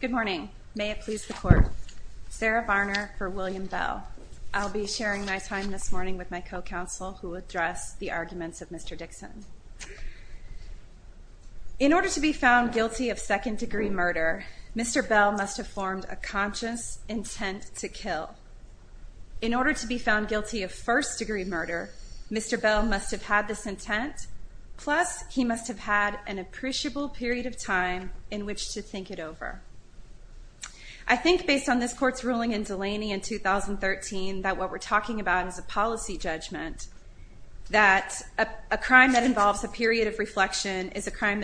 Good morning. May it please the court. Sarah Varner for William Bell. I'll be sharing my time this morning with my co-counsel who addressed the arguments of Mr. Dixon. In order to be found guilty of second-degree murder, Mr. Bell must have formed a conscious intent to kill. In order to be found guilty of first-degree murder, Mr. Bell must have had this intent, plus he must have had an intent to kill. I think based on this court's ruling in Delaney in 2013 that what we're talking about is a policy judgment, that a crime that involves a period of reflection is a crime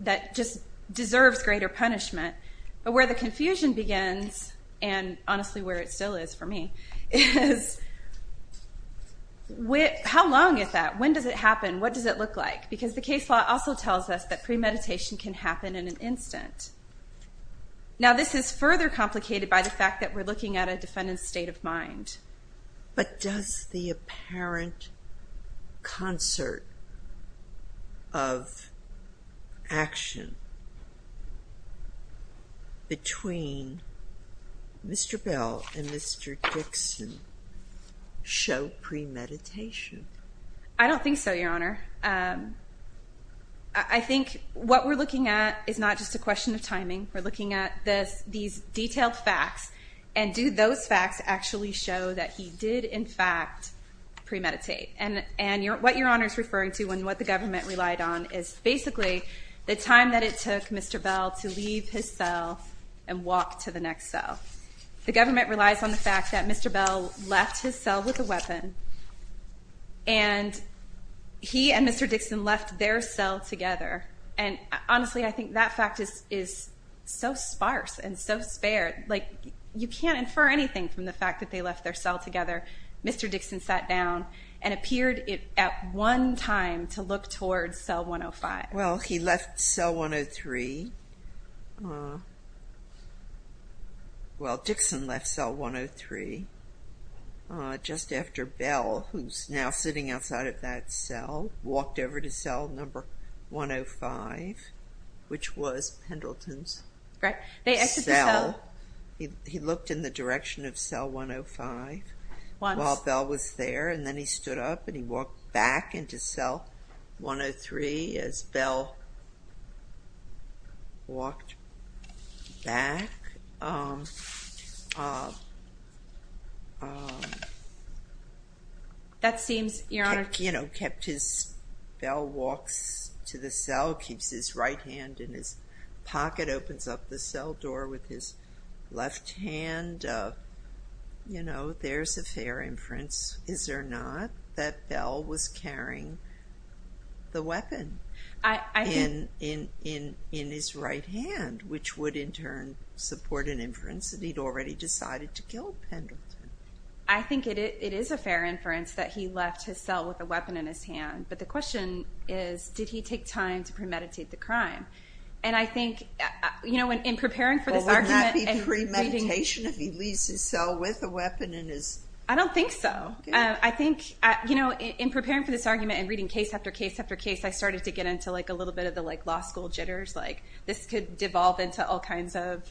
that just deserves greater punishment, but where the confusion begins, and honestly where it still is for me, is how long is that? When does it happen? What does it look like? Because the case law also tells us that premeditation can happen in an instant. Now this is further complicated by the fact that we're looking at a defendant's state of mind. But does the apparent concert of action between Mr. Bell and Mr. Dixon show premeditation? I don't think so, Your Honor. I think what we're looking at is not just a question of timing. We're looking at these detailed facts, and do those facts actually show that he did, in fact, premeditate? And what Your Honor is referring to and what the government relied on is basically the time that it took Mr. Bell to leave his cell and walk to the next cell. The government relies on the fact that Mr. Bell left his cell with a weapon, and he and Mr. Dixon left their cell together. And honestly, I think that fact is so sparse and so spare, like you can't infer anything from the fact that they left their cell together. Mr. Dixon sat down and appeared at one time to look towards cell 105. Well, he left cell 103. Well, Dixon left cell 103 just after Bell, who's now sitting outside of that cell, walked over to cell number 105, which was Pendleton's cell. He looked in the direction of cell 105 while Bell was there, and then he stood up, and he walked back into cell 103 as Bell walked back. That seems, Your Honor... You know, kept his... Bell walks to the cell, keeps his right hand in his pocket, opens up the cell door with his left hand. You know, there's a fair inference, is there not, that Bell was carrying the weapon in his right hand, which would, in turn, support an inference that he'd already decided to kill Pendleton. I think it is a fair inference that he left his cell with a weapon in his hand, but the question is, did he take time to premeditate the crime? And I think, you know, in preparing for this argument... Well, would it not be premeditation if he leaves his cell with a weapon in his... I don't think so. I think, you know, in preparing for this argument and reading case after case after case, I started to get into, like, a little bit of the, like, law school jitters, like, this could devolve into all kinds of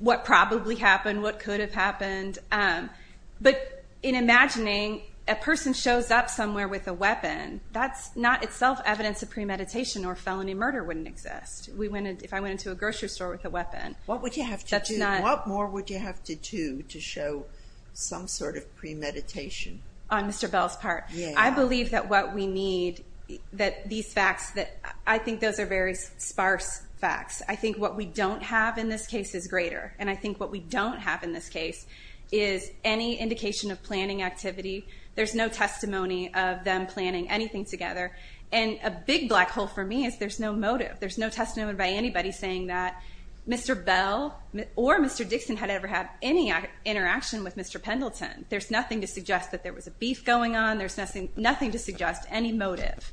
what probably happened, what could have happened. But in imagining a person shows up somewhere with a weapon, that's not itself evidence of premeditation or felony murder wouldn't exist. If I went into a grocery store with a weapon... What would you have to do? What more would you have to do to show some sort of premeditation? On Mr. Bell's part, I believe that what we need, that these facts that... I think those are very sparse facts. I think what we don't have in this case is greater. And I think what we don't have in this case is any indication of planning activity. There's no testimony of them planning anything together. And a big black hole for me is there's no motive. There's no testimony by anybody saying that Mr. Bell or Mr. Dixon had ever had any interaction with Mr. Pendleton. There's nothing to suggest that there was a beef going on. There's nothing to suggest any motive.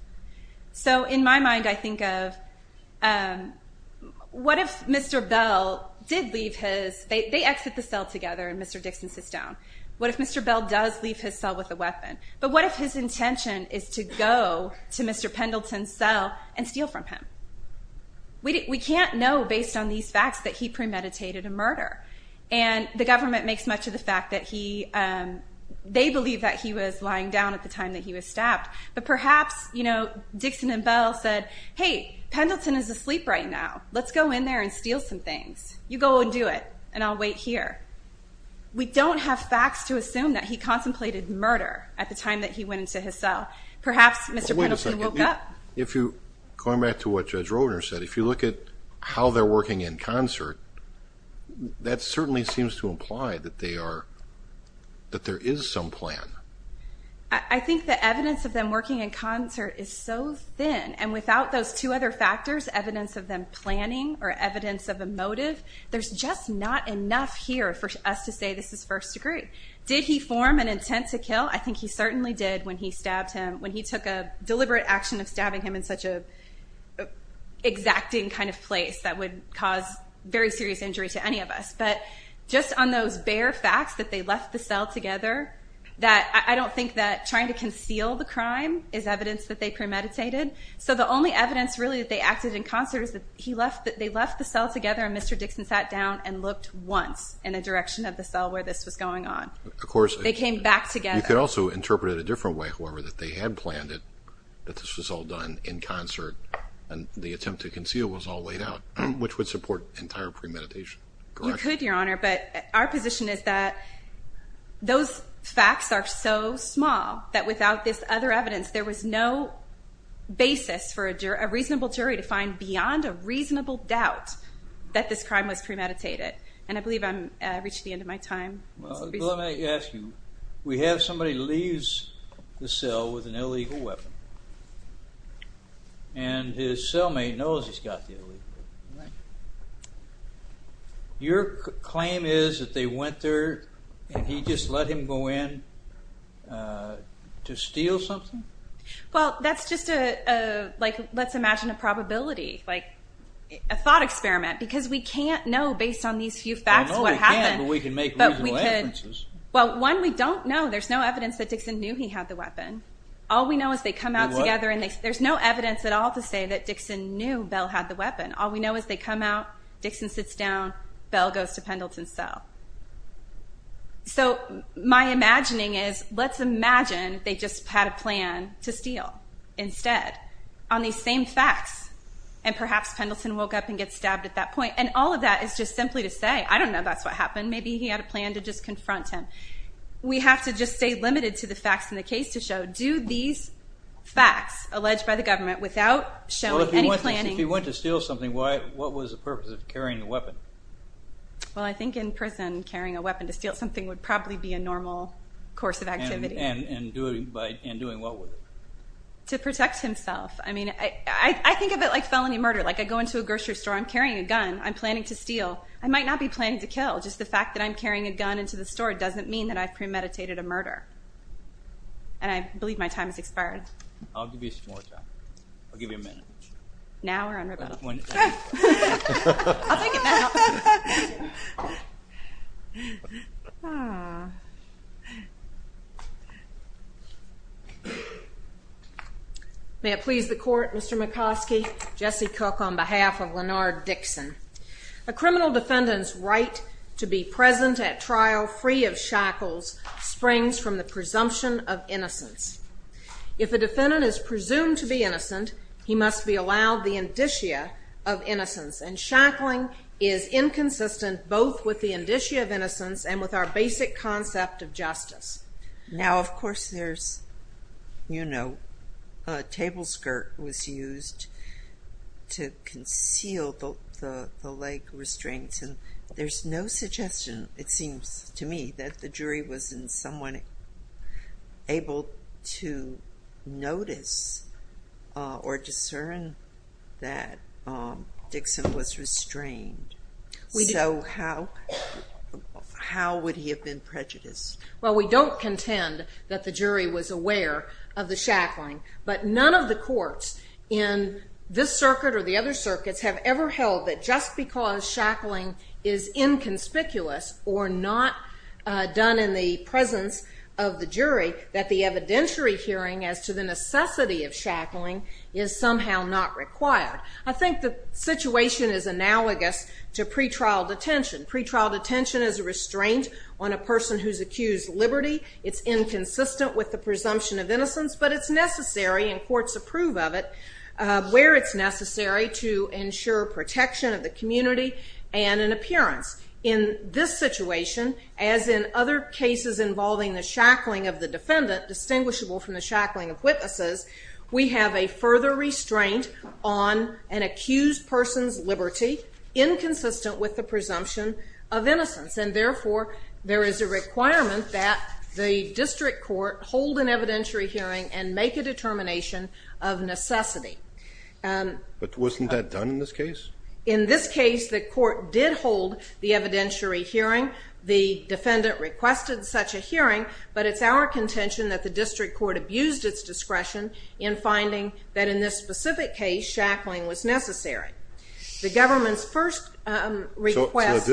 So in my mind, I think of, what if Mr. Bell did leave his... They exit the cell together and Mr. Dixon sits down. What if Mr. Bell does leave his cell with a weapon? But what if his intention is to go to Mr. Pendleton's and steal from him? We can't know based on these facts that he premeditated a murder. And the government makes much of the fact that he... They believe that he was lying down at the time that he was stabbed. But perhaps, you know, Dixon and Bell said, hey, Pendleton is asleep right now. Let's go in there and steal some things. You go and do it and I'll wait here. We don't have facts to assume that he contemplated murder at the time that he went into his cell. Perhaps Mr. Pendleton woke up. If you, going back to what Judge Rovner said, if you look at how they're working in concert, that certainly seems to imply that they are, that there is some plan. I think the evidence of them working in concert is so thin. And without those two other factors, evidence of them planning or evidence of a motive, there's just not enough here for us to say this is first degree. Did he form an intent to kill? I think he certainly did when he stabbed him, when he took a deliberate action of stabbing him in such an exacting kind of place that would cause very serious injury to any of us. But just on those bare facts that they left the cell together, that I don't think that trying to conceal the crime is evidence that they premeditated. So the only evidence, really, that they acted in concert is that he left, that they left the cell together and Mr. Dixon sat down and looked once in the direction of the cell where this was going on. Of course... They came back together. You could also interpret it a different way, however, that they had planned it, that this was all done in concert and the attempt to conceal was all laid out, which would support entire premeditation. We could, Your Honor, but our position is that those facts are so small that without this other evidence there was no basis for a reasonable jury to find beyond a reasonable doubt that this crime was premeditated. And I believe I'm reaching the end of my time. Well let me ask you, we have somebody leaves the cell with an illegal weapon and his cellmate knows he's got the illegal weapon. Your claim is that they went there and he just let him go in to steal something? Well that's just a, like let's imagine a probability, like a thought experiment, because we can't know based on these few facts what happened. Well one, we don't know. There's no evidence that Dixon knew he had the weapon. All we know is they come out together and there's no evidence at all to say that Dixon knew Bell had the weapon. All we know is they come out, Dixon sits down, Bell goes to Pendleton's cell. So my imagining is, let's imagine they just had a plan to steal instead, on these same facts. And perhaps Pendleton woke up and gets stabbed at that point. And all of that is just simply to say, I don't know that's what happened, maybe he had a plan to just confront him. We have to just stay limited to the facts in the case to show, do these facts alleged by the government without showing any planning. So if he went to steal something, what was the purpose of carrying the weapon? Well I think in prison, carrying a weapon to steal something would probably be a normal course of activity. And doing what with it? To protect himself. I mean, I think of it like felony murder. Like I go into a grocery store, I'm carrying a gun, I'm planning to steal. I might not be planning to kill, just the fact that I'm carrying a gun into the store doesn't mean that I've premeditated a murder. And I believe my time has expired. I'll give you some more time. I'll give you a minute. Now or on rebuttal? I'll take it now. May it please the court, Mr. McCoskey. Jessie Cook on behalf of Leonard Dixon. A criminal defendant's right to be present at trial free of shackles springs from the presumption of innocence. If a defendant is presumed to be innocent, he must be allowed the indicia of innocence. And shackling is innocent. It is inconsistent both with the indicia of innocence and with our basic concept of justice. Now, of course, there's, you know, a table skirt was used to conceal the leg restraints. And there's no suggestion, it seems to me, that the jury was in someone able to notice or discern that Dixon was restrained. So how would he have been prejudiced? Well, we don't contend that the jury was aware of the shackling. But none of the courts in this circuit or the other circuits have ever held that just because shackling is inconspicuous or not done in the presence of the jury, that the evidentiary hearing as to the necessity of shackling is somehow not required. I think the situation is analogous to pretrial detention. Pretrial detention is a restraint on a person who's accused liberty. It's inconsistent with the presumption of innocence. But it's necessary, and courts approve of it, where it's necessary to ensure protection of the community and an appearance. In this situation, as in other cases involving the shackling of the defendant, distinguishable from the shackling of witnesses, we have a further restraint on an accused person's liberty, inconsistent with the presumption of innocence. And therefore, there is a requirement that the district court hold an evidentiary hearing and make a determination of necessity. But wasn't that done in this case? In this case, the court did hold the evidentiary hearing. The defendant requested such a hearing, but it's our contention that the district court abused its discretion in finding that in this specific case, shackling was necessary. The government's first request...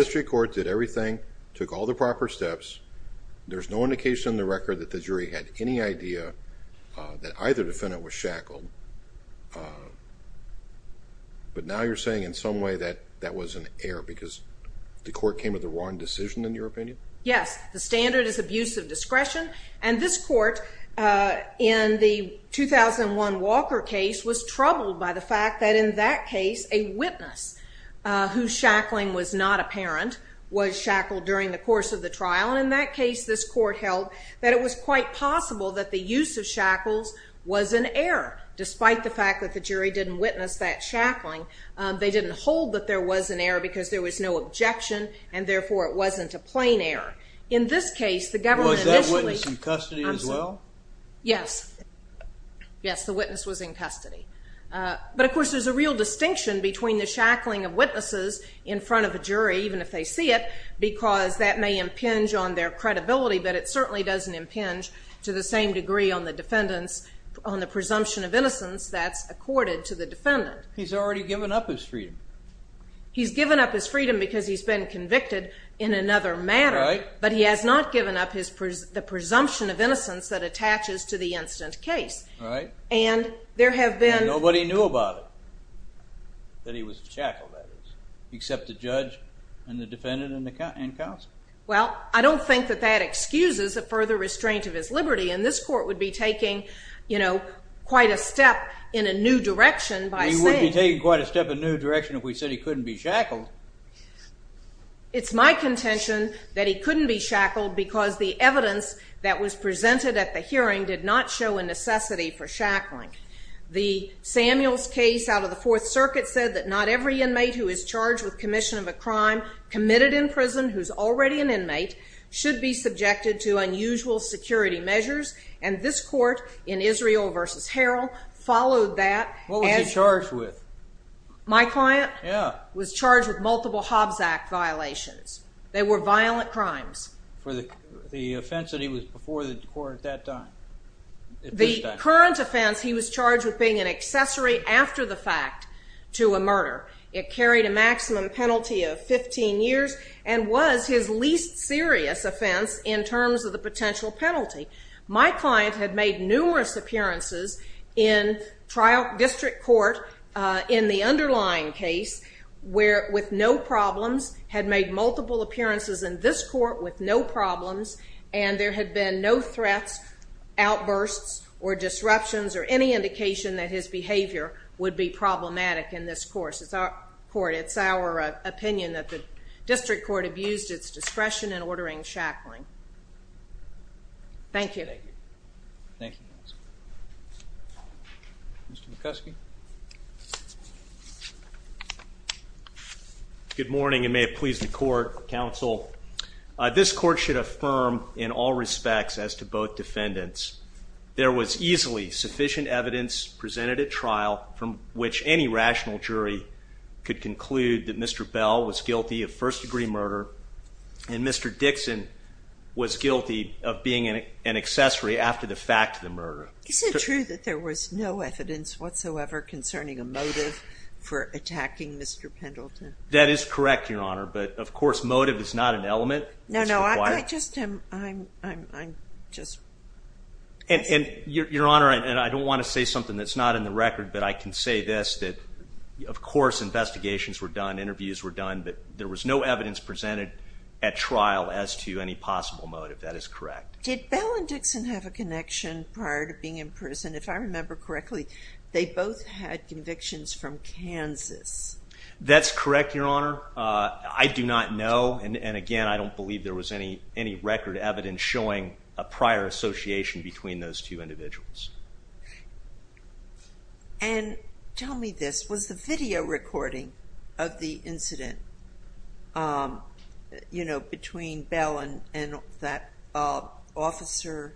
There's no indication in the record that the jury had any idea that either defendant was shackled. But now you're saying in some way that that was an error, because the court came to the wrong decision, in your opinion? Yes. The standard is abuse of discretion. And this court, in the 2001 Walker case, was troubled by the fact that in that case, a witness whose shackling was not apparent was shackled during the course of the trial. And in that case, this court held that it was quite possible that the use of shackles was an error, despite the fact that the jury didn't witness that shackling. They didn't hold that there was an error because there was no objection, and therefore it wasn't a plain error. In this case, the government initially... Was that witness in custody as well? Yes. Yes, the witness was in custody. But of course, there's a real distinction between the shackling of witnesses in front of a jury, even if they see it, because that may impinge on their credibility, but it certainly doesn't impinge to the same degree on the defendant's, on the presumption of innocence that's accorded to the defendant. He's already given up his freedom. He's given up his freedom because he's been convicted in another matter. Right. But he has not given up the presumption of innocence that attaches to the instant case. Right. And there have been... And nobody knew about it, that he was shackled, except the judge and the defendant and counsel. Well, I don't think that that excuses a further restraint of his liberty, and this court would be taking, you know, quite a step in a new direction by saying... He wouldn't be taking quite a step in a new direction if we said he couldn't be shackled. It's my contention that he couldn't be shackled because the evidence that was presented at the hearing did not show a necessity for shackling. The Samuels case out of the Fourth Circuit said that not every inmate who is charged with commission of a crime committed in prison who's already an inmate should be subjected to unusual security measures, and this court in Israel v. Harrell followed that. What was he charged with? My client? Yeah. Was charged with multiple Hobbs Act violations. They were violent crimes. For the offense that he was before the court at that time? The current offense, he was charged with being an accessory after the fact to a murder. It carried a maximum penalty of 15 years and was his least serious offense in terms of the potential penalty. My client had made numerous appearances in district court in the underlying case with no problems, had made multiple appearances in this court with no problems, and there had been no threats, outbursts, or disruptions or any indication that his behavior would be problematic in this court. It's our opinion that the district court abused its discretion in ordering shackling. Thank you. Thank you. Thank you. Mr. McCuskey. Good morning and may it please the court, counsel. This court should affirm in all respects as to both defendants there was easily sufficient evidence presented at trial from which any rational jury could conclude that Mr. Bell was guilty of first degree murder and Mr. Dixon was guilty of being an accessory after the fact of the murder. Is it true that there was no evidence whatsoever concerning a motive for attacking Mr. Pendleton? That is correct, Your Honor, but of course motive is not an element. No, no, I just am, I'm, I'm, I'm just. Your Honor, and I don't want to say something that's not in the record, but I can say this, that of course investigations were done, interviews were done, but there was no evidence presented at trial as to any possible motive. That is correct. Did Bell and Dixon have a connection prior to being in prison? If I remember correctly, they both had convictions from Kansas. That's correct, Your Honor. I do not know, and again, I don't believe there was any, any record evidence showing a prior association between those two individuals. And tell me this, was the video recording of the incident, you know, between Bell and that officer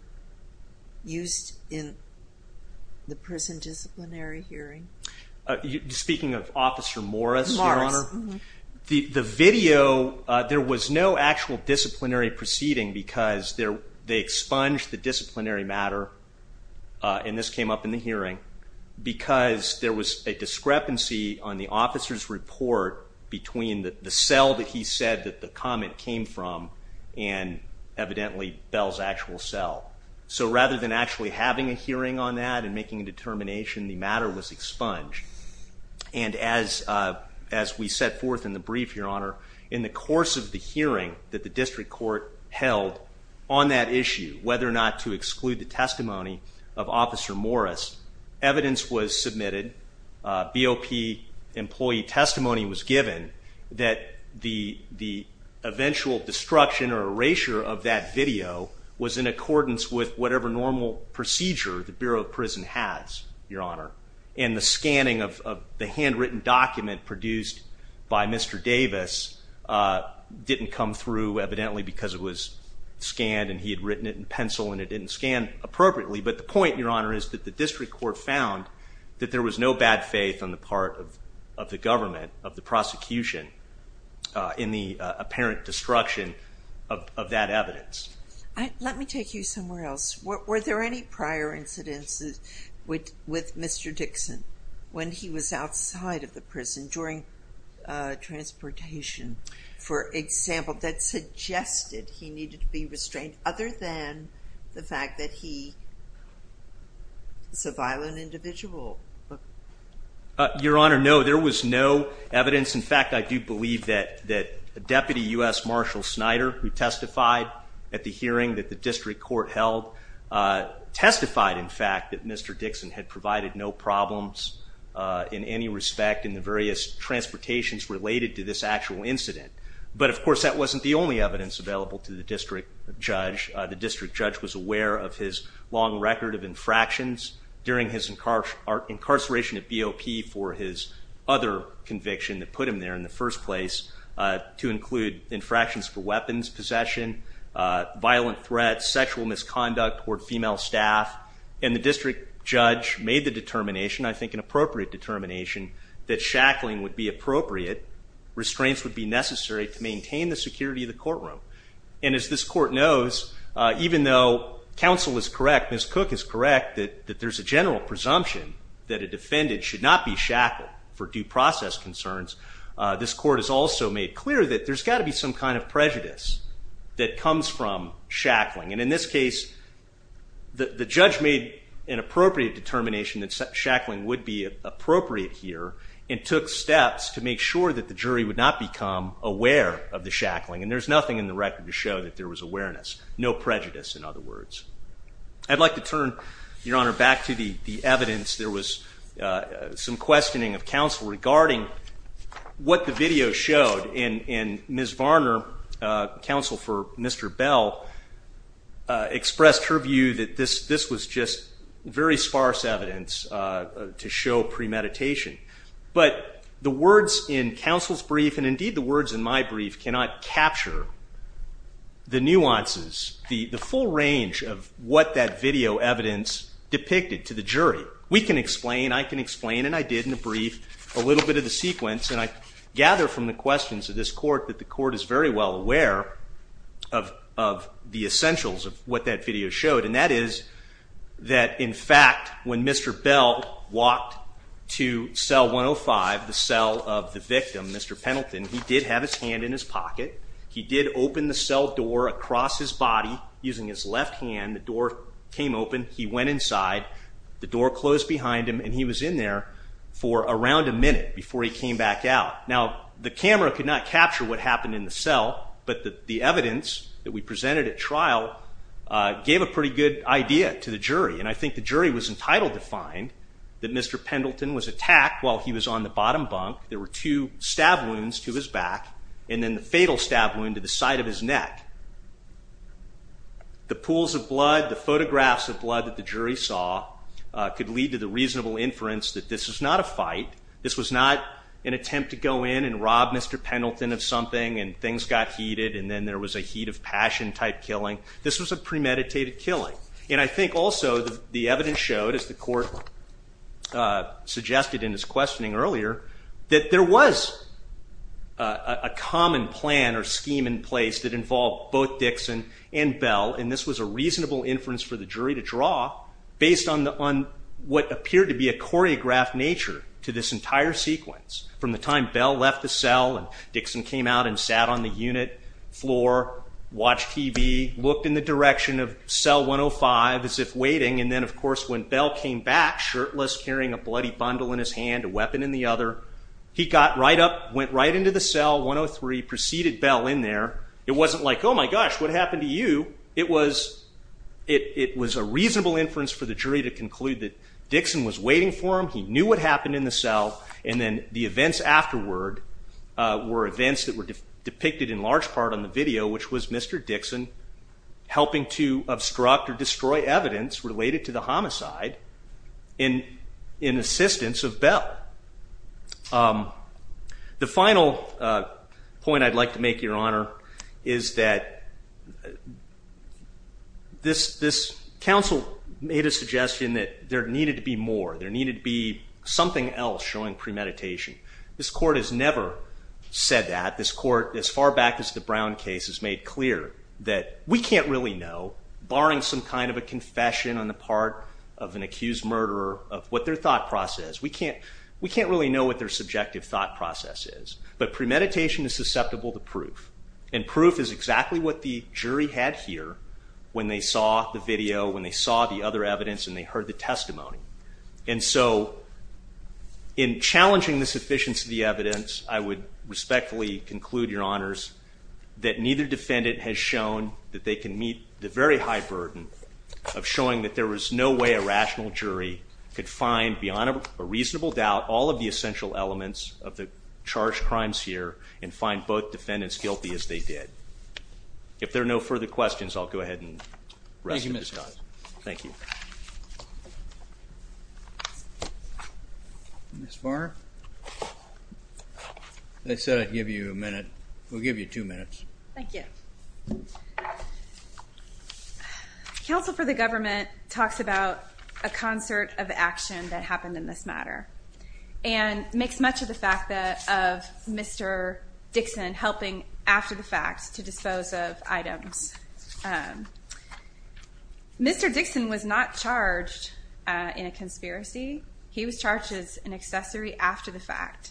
used in the prison disciplinary hearing? Speaking of Officer Morris, Your Honor, the video, there was no actual disciplinary proceeding because they expunged the disciplinary matter, and this came up in the hearing, because there was a discrepancy on the officer's report between the cell that he said that the comment came from and evidently Bell's actual cell. So rather than actually having a hearing on that and making a determination, the matter was expunged. And as we set forth in the brief, Your Honor, in the course of the hearing that the district court held on that issue, whether or not to exclude the testimony of Officer Morris, evidence was submitted, BOP employee testimony was given, that the eventual destruction or erasure of that video was in accordance with whatever normal procedure the Bureau of Prison has, Your Honor. And the scanning of the handwritten document produced by Mr. Davis didn't come through evidently because it was scanned and he had written it in pencil and it didn't scan appropriately. But the point, Your Honor, is that the district court found that there was no bad faith on the part of the government, of the prosecution, in the apparent destruction of that evidence. Let me take you somewhere else. Were there any prior incidents with Mr. Dixon when he was outside of the prison during transportation, for example, that suggested he needed to be restrained other than the fact that he was a violent individual? Your Honor, no, there was no evidence. In fact, I do believe that Deputy U.S. Marshall Snyder, who testified at the hearing that the district court held, testified, in fact, that Mr. Dixon had provided no problems in any respect in the various transportations related to this actual incident. But, of course, that wasn't the only evidence available to the district judge. The district judge was aware of his long record of infractions during his incarceration at BOP for his other conviction that put him there in the first place to include infractions for weapons possession, violent threats, sexual misconduct toward female staff. And the district judge made the determination, I think an appropriate determination, that shackling would be appropriate. Restraints would be necessary to maintain the security of the courtroom. And as this court knows, even though counsel is correct, Ms. Cook is correct, that there's a general presumption that a defendant should not be shackled for due process concerns. This court has also made clear that there's got to be some kind of prejudice that comes from shackling. And in this case, the judge made an appropriate determination that shackling would be appropriate here and took steps to make sure that the jury would not become aware of the shackling. And there's nothing in the record to show that there was awareness. No prejudice, in other words. I'd like to turn, Your Honor, back to the evidence. There was some questioning of counsel regarding what the video showed. And Ms. Varner, counsel for Mr. Bell, expressed her view that this was just very sparse evidence to show premeditation. But the words in counsel's brief, and indeed the words in my brief, cannot capture the nuances, the full range of what that video evidence depicted to the jury. We can explain. I can explain. And I did in a brief a little bit of the sequence. And I gather from the questions of this court that the court is very well aware of the essentials of what that video showed. And that is that, in fact, when Mr. Bell walked to cell 105, the cell of the victim, Mr. Pendleton, he did have his hand in his pocket. He did open the cell door across his body using his left hand. The door came open. He went inside. The door closed behind him. And he was in there for around a minute before he came back out. Now, the camera could not capture what happened in the cell. But the evidence that we presented at trial gave a pretty good idea to the jury. And I think the jury was entitled to find that Mr. Pendleton was attacked while he was on the bottom bunk. There were two stab wounds to his back and then the fatal stab wound to the side of his neck. The pools of blood, the photographs of blood that the jury saw could lead to the reasonable inference that this was not a fight. This was not an attempt to go in and rob Mr. Pendleton of something and things got heated and then there was a heat of passion type killing. This was a premeditated killing. And I think also the evidence showed, as the court suggested in his questioning earlier, that there was a common plan or scheme in place that involved both Dixon and Bell, and this was a reasonable inference for the jury to draw based on what appeared to be a choreographed nature to this entire sequence. From the time Bell left the cell and Dixon came out and sat on the unit floor, watched TV, looked in the direction of cell 105 as if waiting, and then, of course, when Bell came back, shirtless, carrying a bloody bundle in his hand, a weapon in the other, he got right up, went right into the cell 103, preceded Bell in there. It wasn't like, oh my gosh, what happened to you? It was a reasonable inference for the jury to conclude that Dixon was waiting for him, he knew what happened in the cell, and then the events afterward were events that were depicted in large part on the video, which was Mr. Dixon helping to obstruct or destroy evidence related to the homicide in assistance of Bell. The final point I'd like to make, Your Honor, is that this counsel made a suggestion that there needed to be more. There needed to be something else showing premeditation. This court has never said that. This court, as far back as the Brown case, has made clear that we can't really know, barring some kind of a confession on the part of an accused murderer of what their thought process. We can't really know what their subjective thought process is, but premeditation is susceptible to proof, and proof is exactly what the jury had here when they saw the video, when they saw the other evidence, and they heard the testimony. And so in challenging the sufficiency of the evidence, I would respectfully conclude, Your Honors, that neither defendant has shown that they can meet the very high burden of showing that there was no way a rational jury could find, beyond a reasonable doubt, all of the essential elements of the charged crimes here and find both defendants guilty as they did. If there are no further questions, I'll go ahead and rest the discussion. Thank you, Mr. Chief. Thank you. Ms. Barr? I said I'd give you a minute. We'll give you two minutes. Thank you. Counsel for the Government talks about a concert of action that happened in this matter and makes much of the fact of Mr. Dixon helping after the fact to dispose of items. Mr. Dixon was not charged in a conspiracy. He was charged as an accessory after the fact.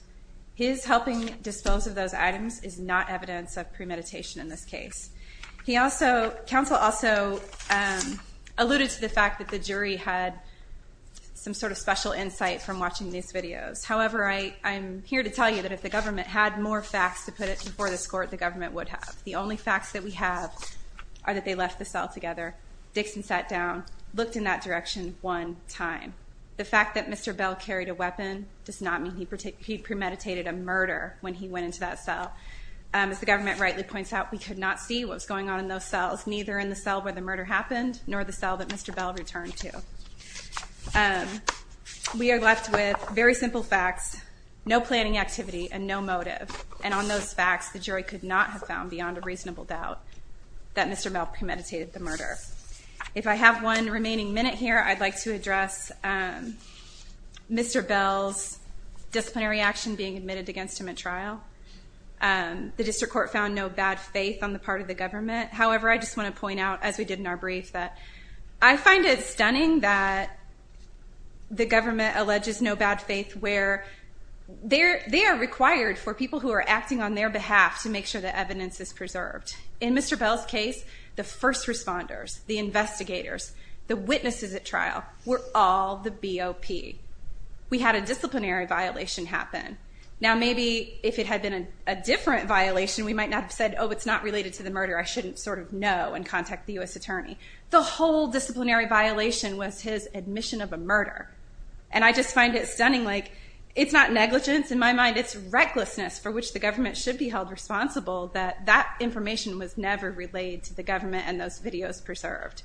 His helping dispose of those items is not evidence of premeditation in this case. Counsel also alluded to the fact that the jury had some sort of special insight from watching these videos. However, I'm here to tell you that if the government had more facts to put it before this court, the government would have. The only facts that we have are that they left the cell together, Dixon sat down, looked in that direction one time. The fact that Mr. Bell carried a weapon does not mean he premeditated a murder when he went into that cell. As the government rightly points out, we could not see what was going on in those cells, neither in the cell where the murder happened nor the cell that Mr. Bell returned to. We are left with very simple facts, no planning activity, and no motive. And on those facts, the jury could not have found beyond a reasonable doubt that Mr. Bell premeditated the murder. If I have one remaining minute here, I'd like to address Mr. Bell's disciplinary action being admitted against him at trial. The district court found no bad faith on the part of the government. However, I just want to point out, as we did in our brief, that I find it stunning that the government alleges no bad faith where they are required for people who are acting on their behalf to make sure that evidence is preserved. In Mr. Bell's case, the first responders, the investigators, the witnesses at trial were all the BOP. We had a disciplinary violation happen. Now, maybe if it had been a different violation, we might not have said, oh, it's not related to the murder, I shouldn't sort of know and contact the U.S. attorney. The whole disciplinary violation was his admission of a murder. And I just find it stunning, like, it's not negligence. In my mind, it's recklessness for which the government should be held responsible that that information was never relayed to the government and those videos preserved.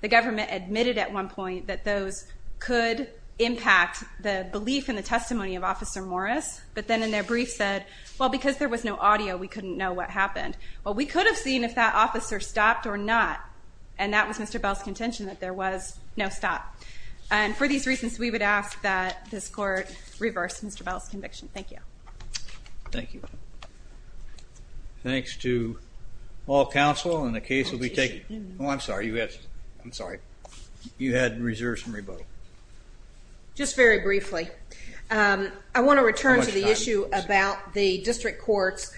The government admitted at one point that those could impact the belief in the testimony of Officer Morris, but then in their brief said, well, because there was no audio, we couldn't know what happened. Well, we could have seen if that officer stopped or not, and that was Mr. Bell's contention that there was no stop. And for these reasons, we would ask that this court reverse Mr. Bell's conviction. Thank you. Thank you. Thanks to all counsel, and the case will be taken. Oh, I'm sorry. I'm sorry. You had reserves from rebuttal. Just very briefly, I want to return to the issue about the district court's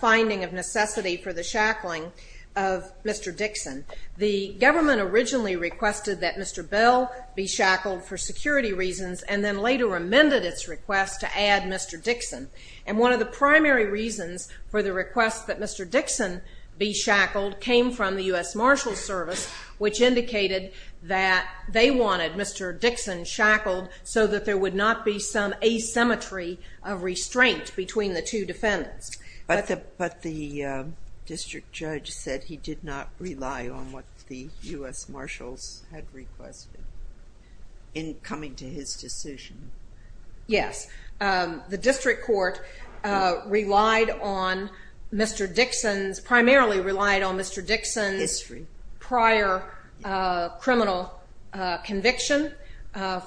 finding of necessity for the shackling of Mr. Dixon. The government originally requested that Mr. Bell be shackled for security reasons and then later amended its request to add Mr. Dixon. And one of the primary reasons for the request that Mr. Dixon be shackled came from the U.S. Marshals Service, which indicated that they wanted Mr. Dixon shackled so that there would not be some asymmetry of restraint between the two defendants. But the district judge said he did not rely on what the U.S. Marshals had requested in coming to his decision. Yes. The district court relied on Mr. Dixon's, primarily relied on Mr. Dixon's prior criminal conviction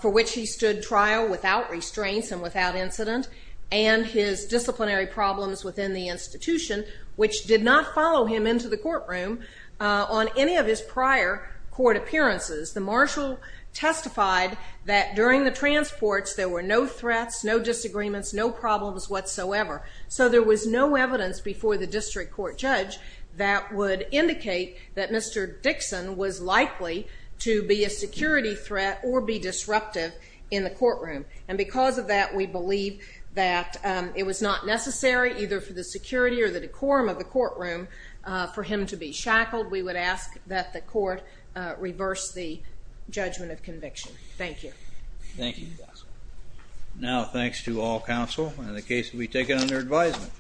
for which he stood trial without restraints and without incident, and his disciplinary problems within the institution, which did not follow him into the courtroom on any of his prior court appearances. The marshal testified that during the transports there were no threats, no disagreements, no problems whatsoever. So there was no evidence before the district court judge that would indicate that Mr. Dixon was likely to be a security threat or be disruptive in the courtroom. And because of that, we believe that it was not necessary either for the security or the decorum of the courtroom for him to be shackled. We would ask that the court reverse the judgment of conviction. Thank you. Thank you. Now thanks to all counsel and the case will be taken under advisement.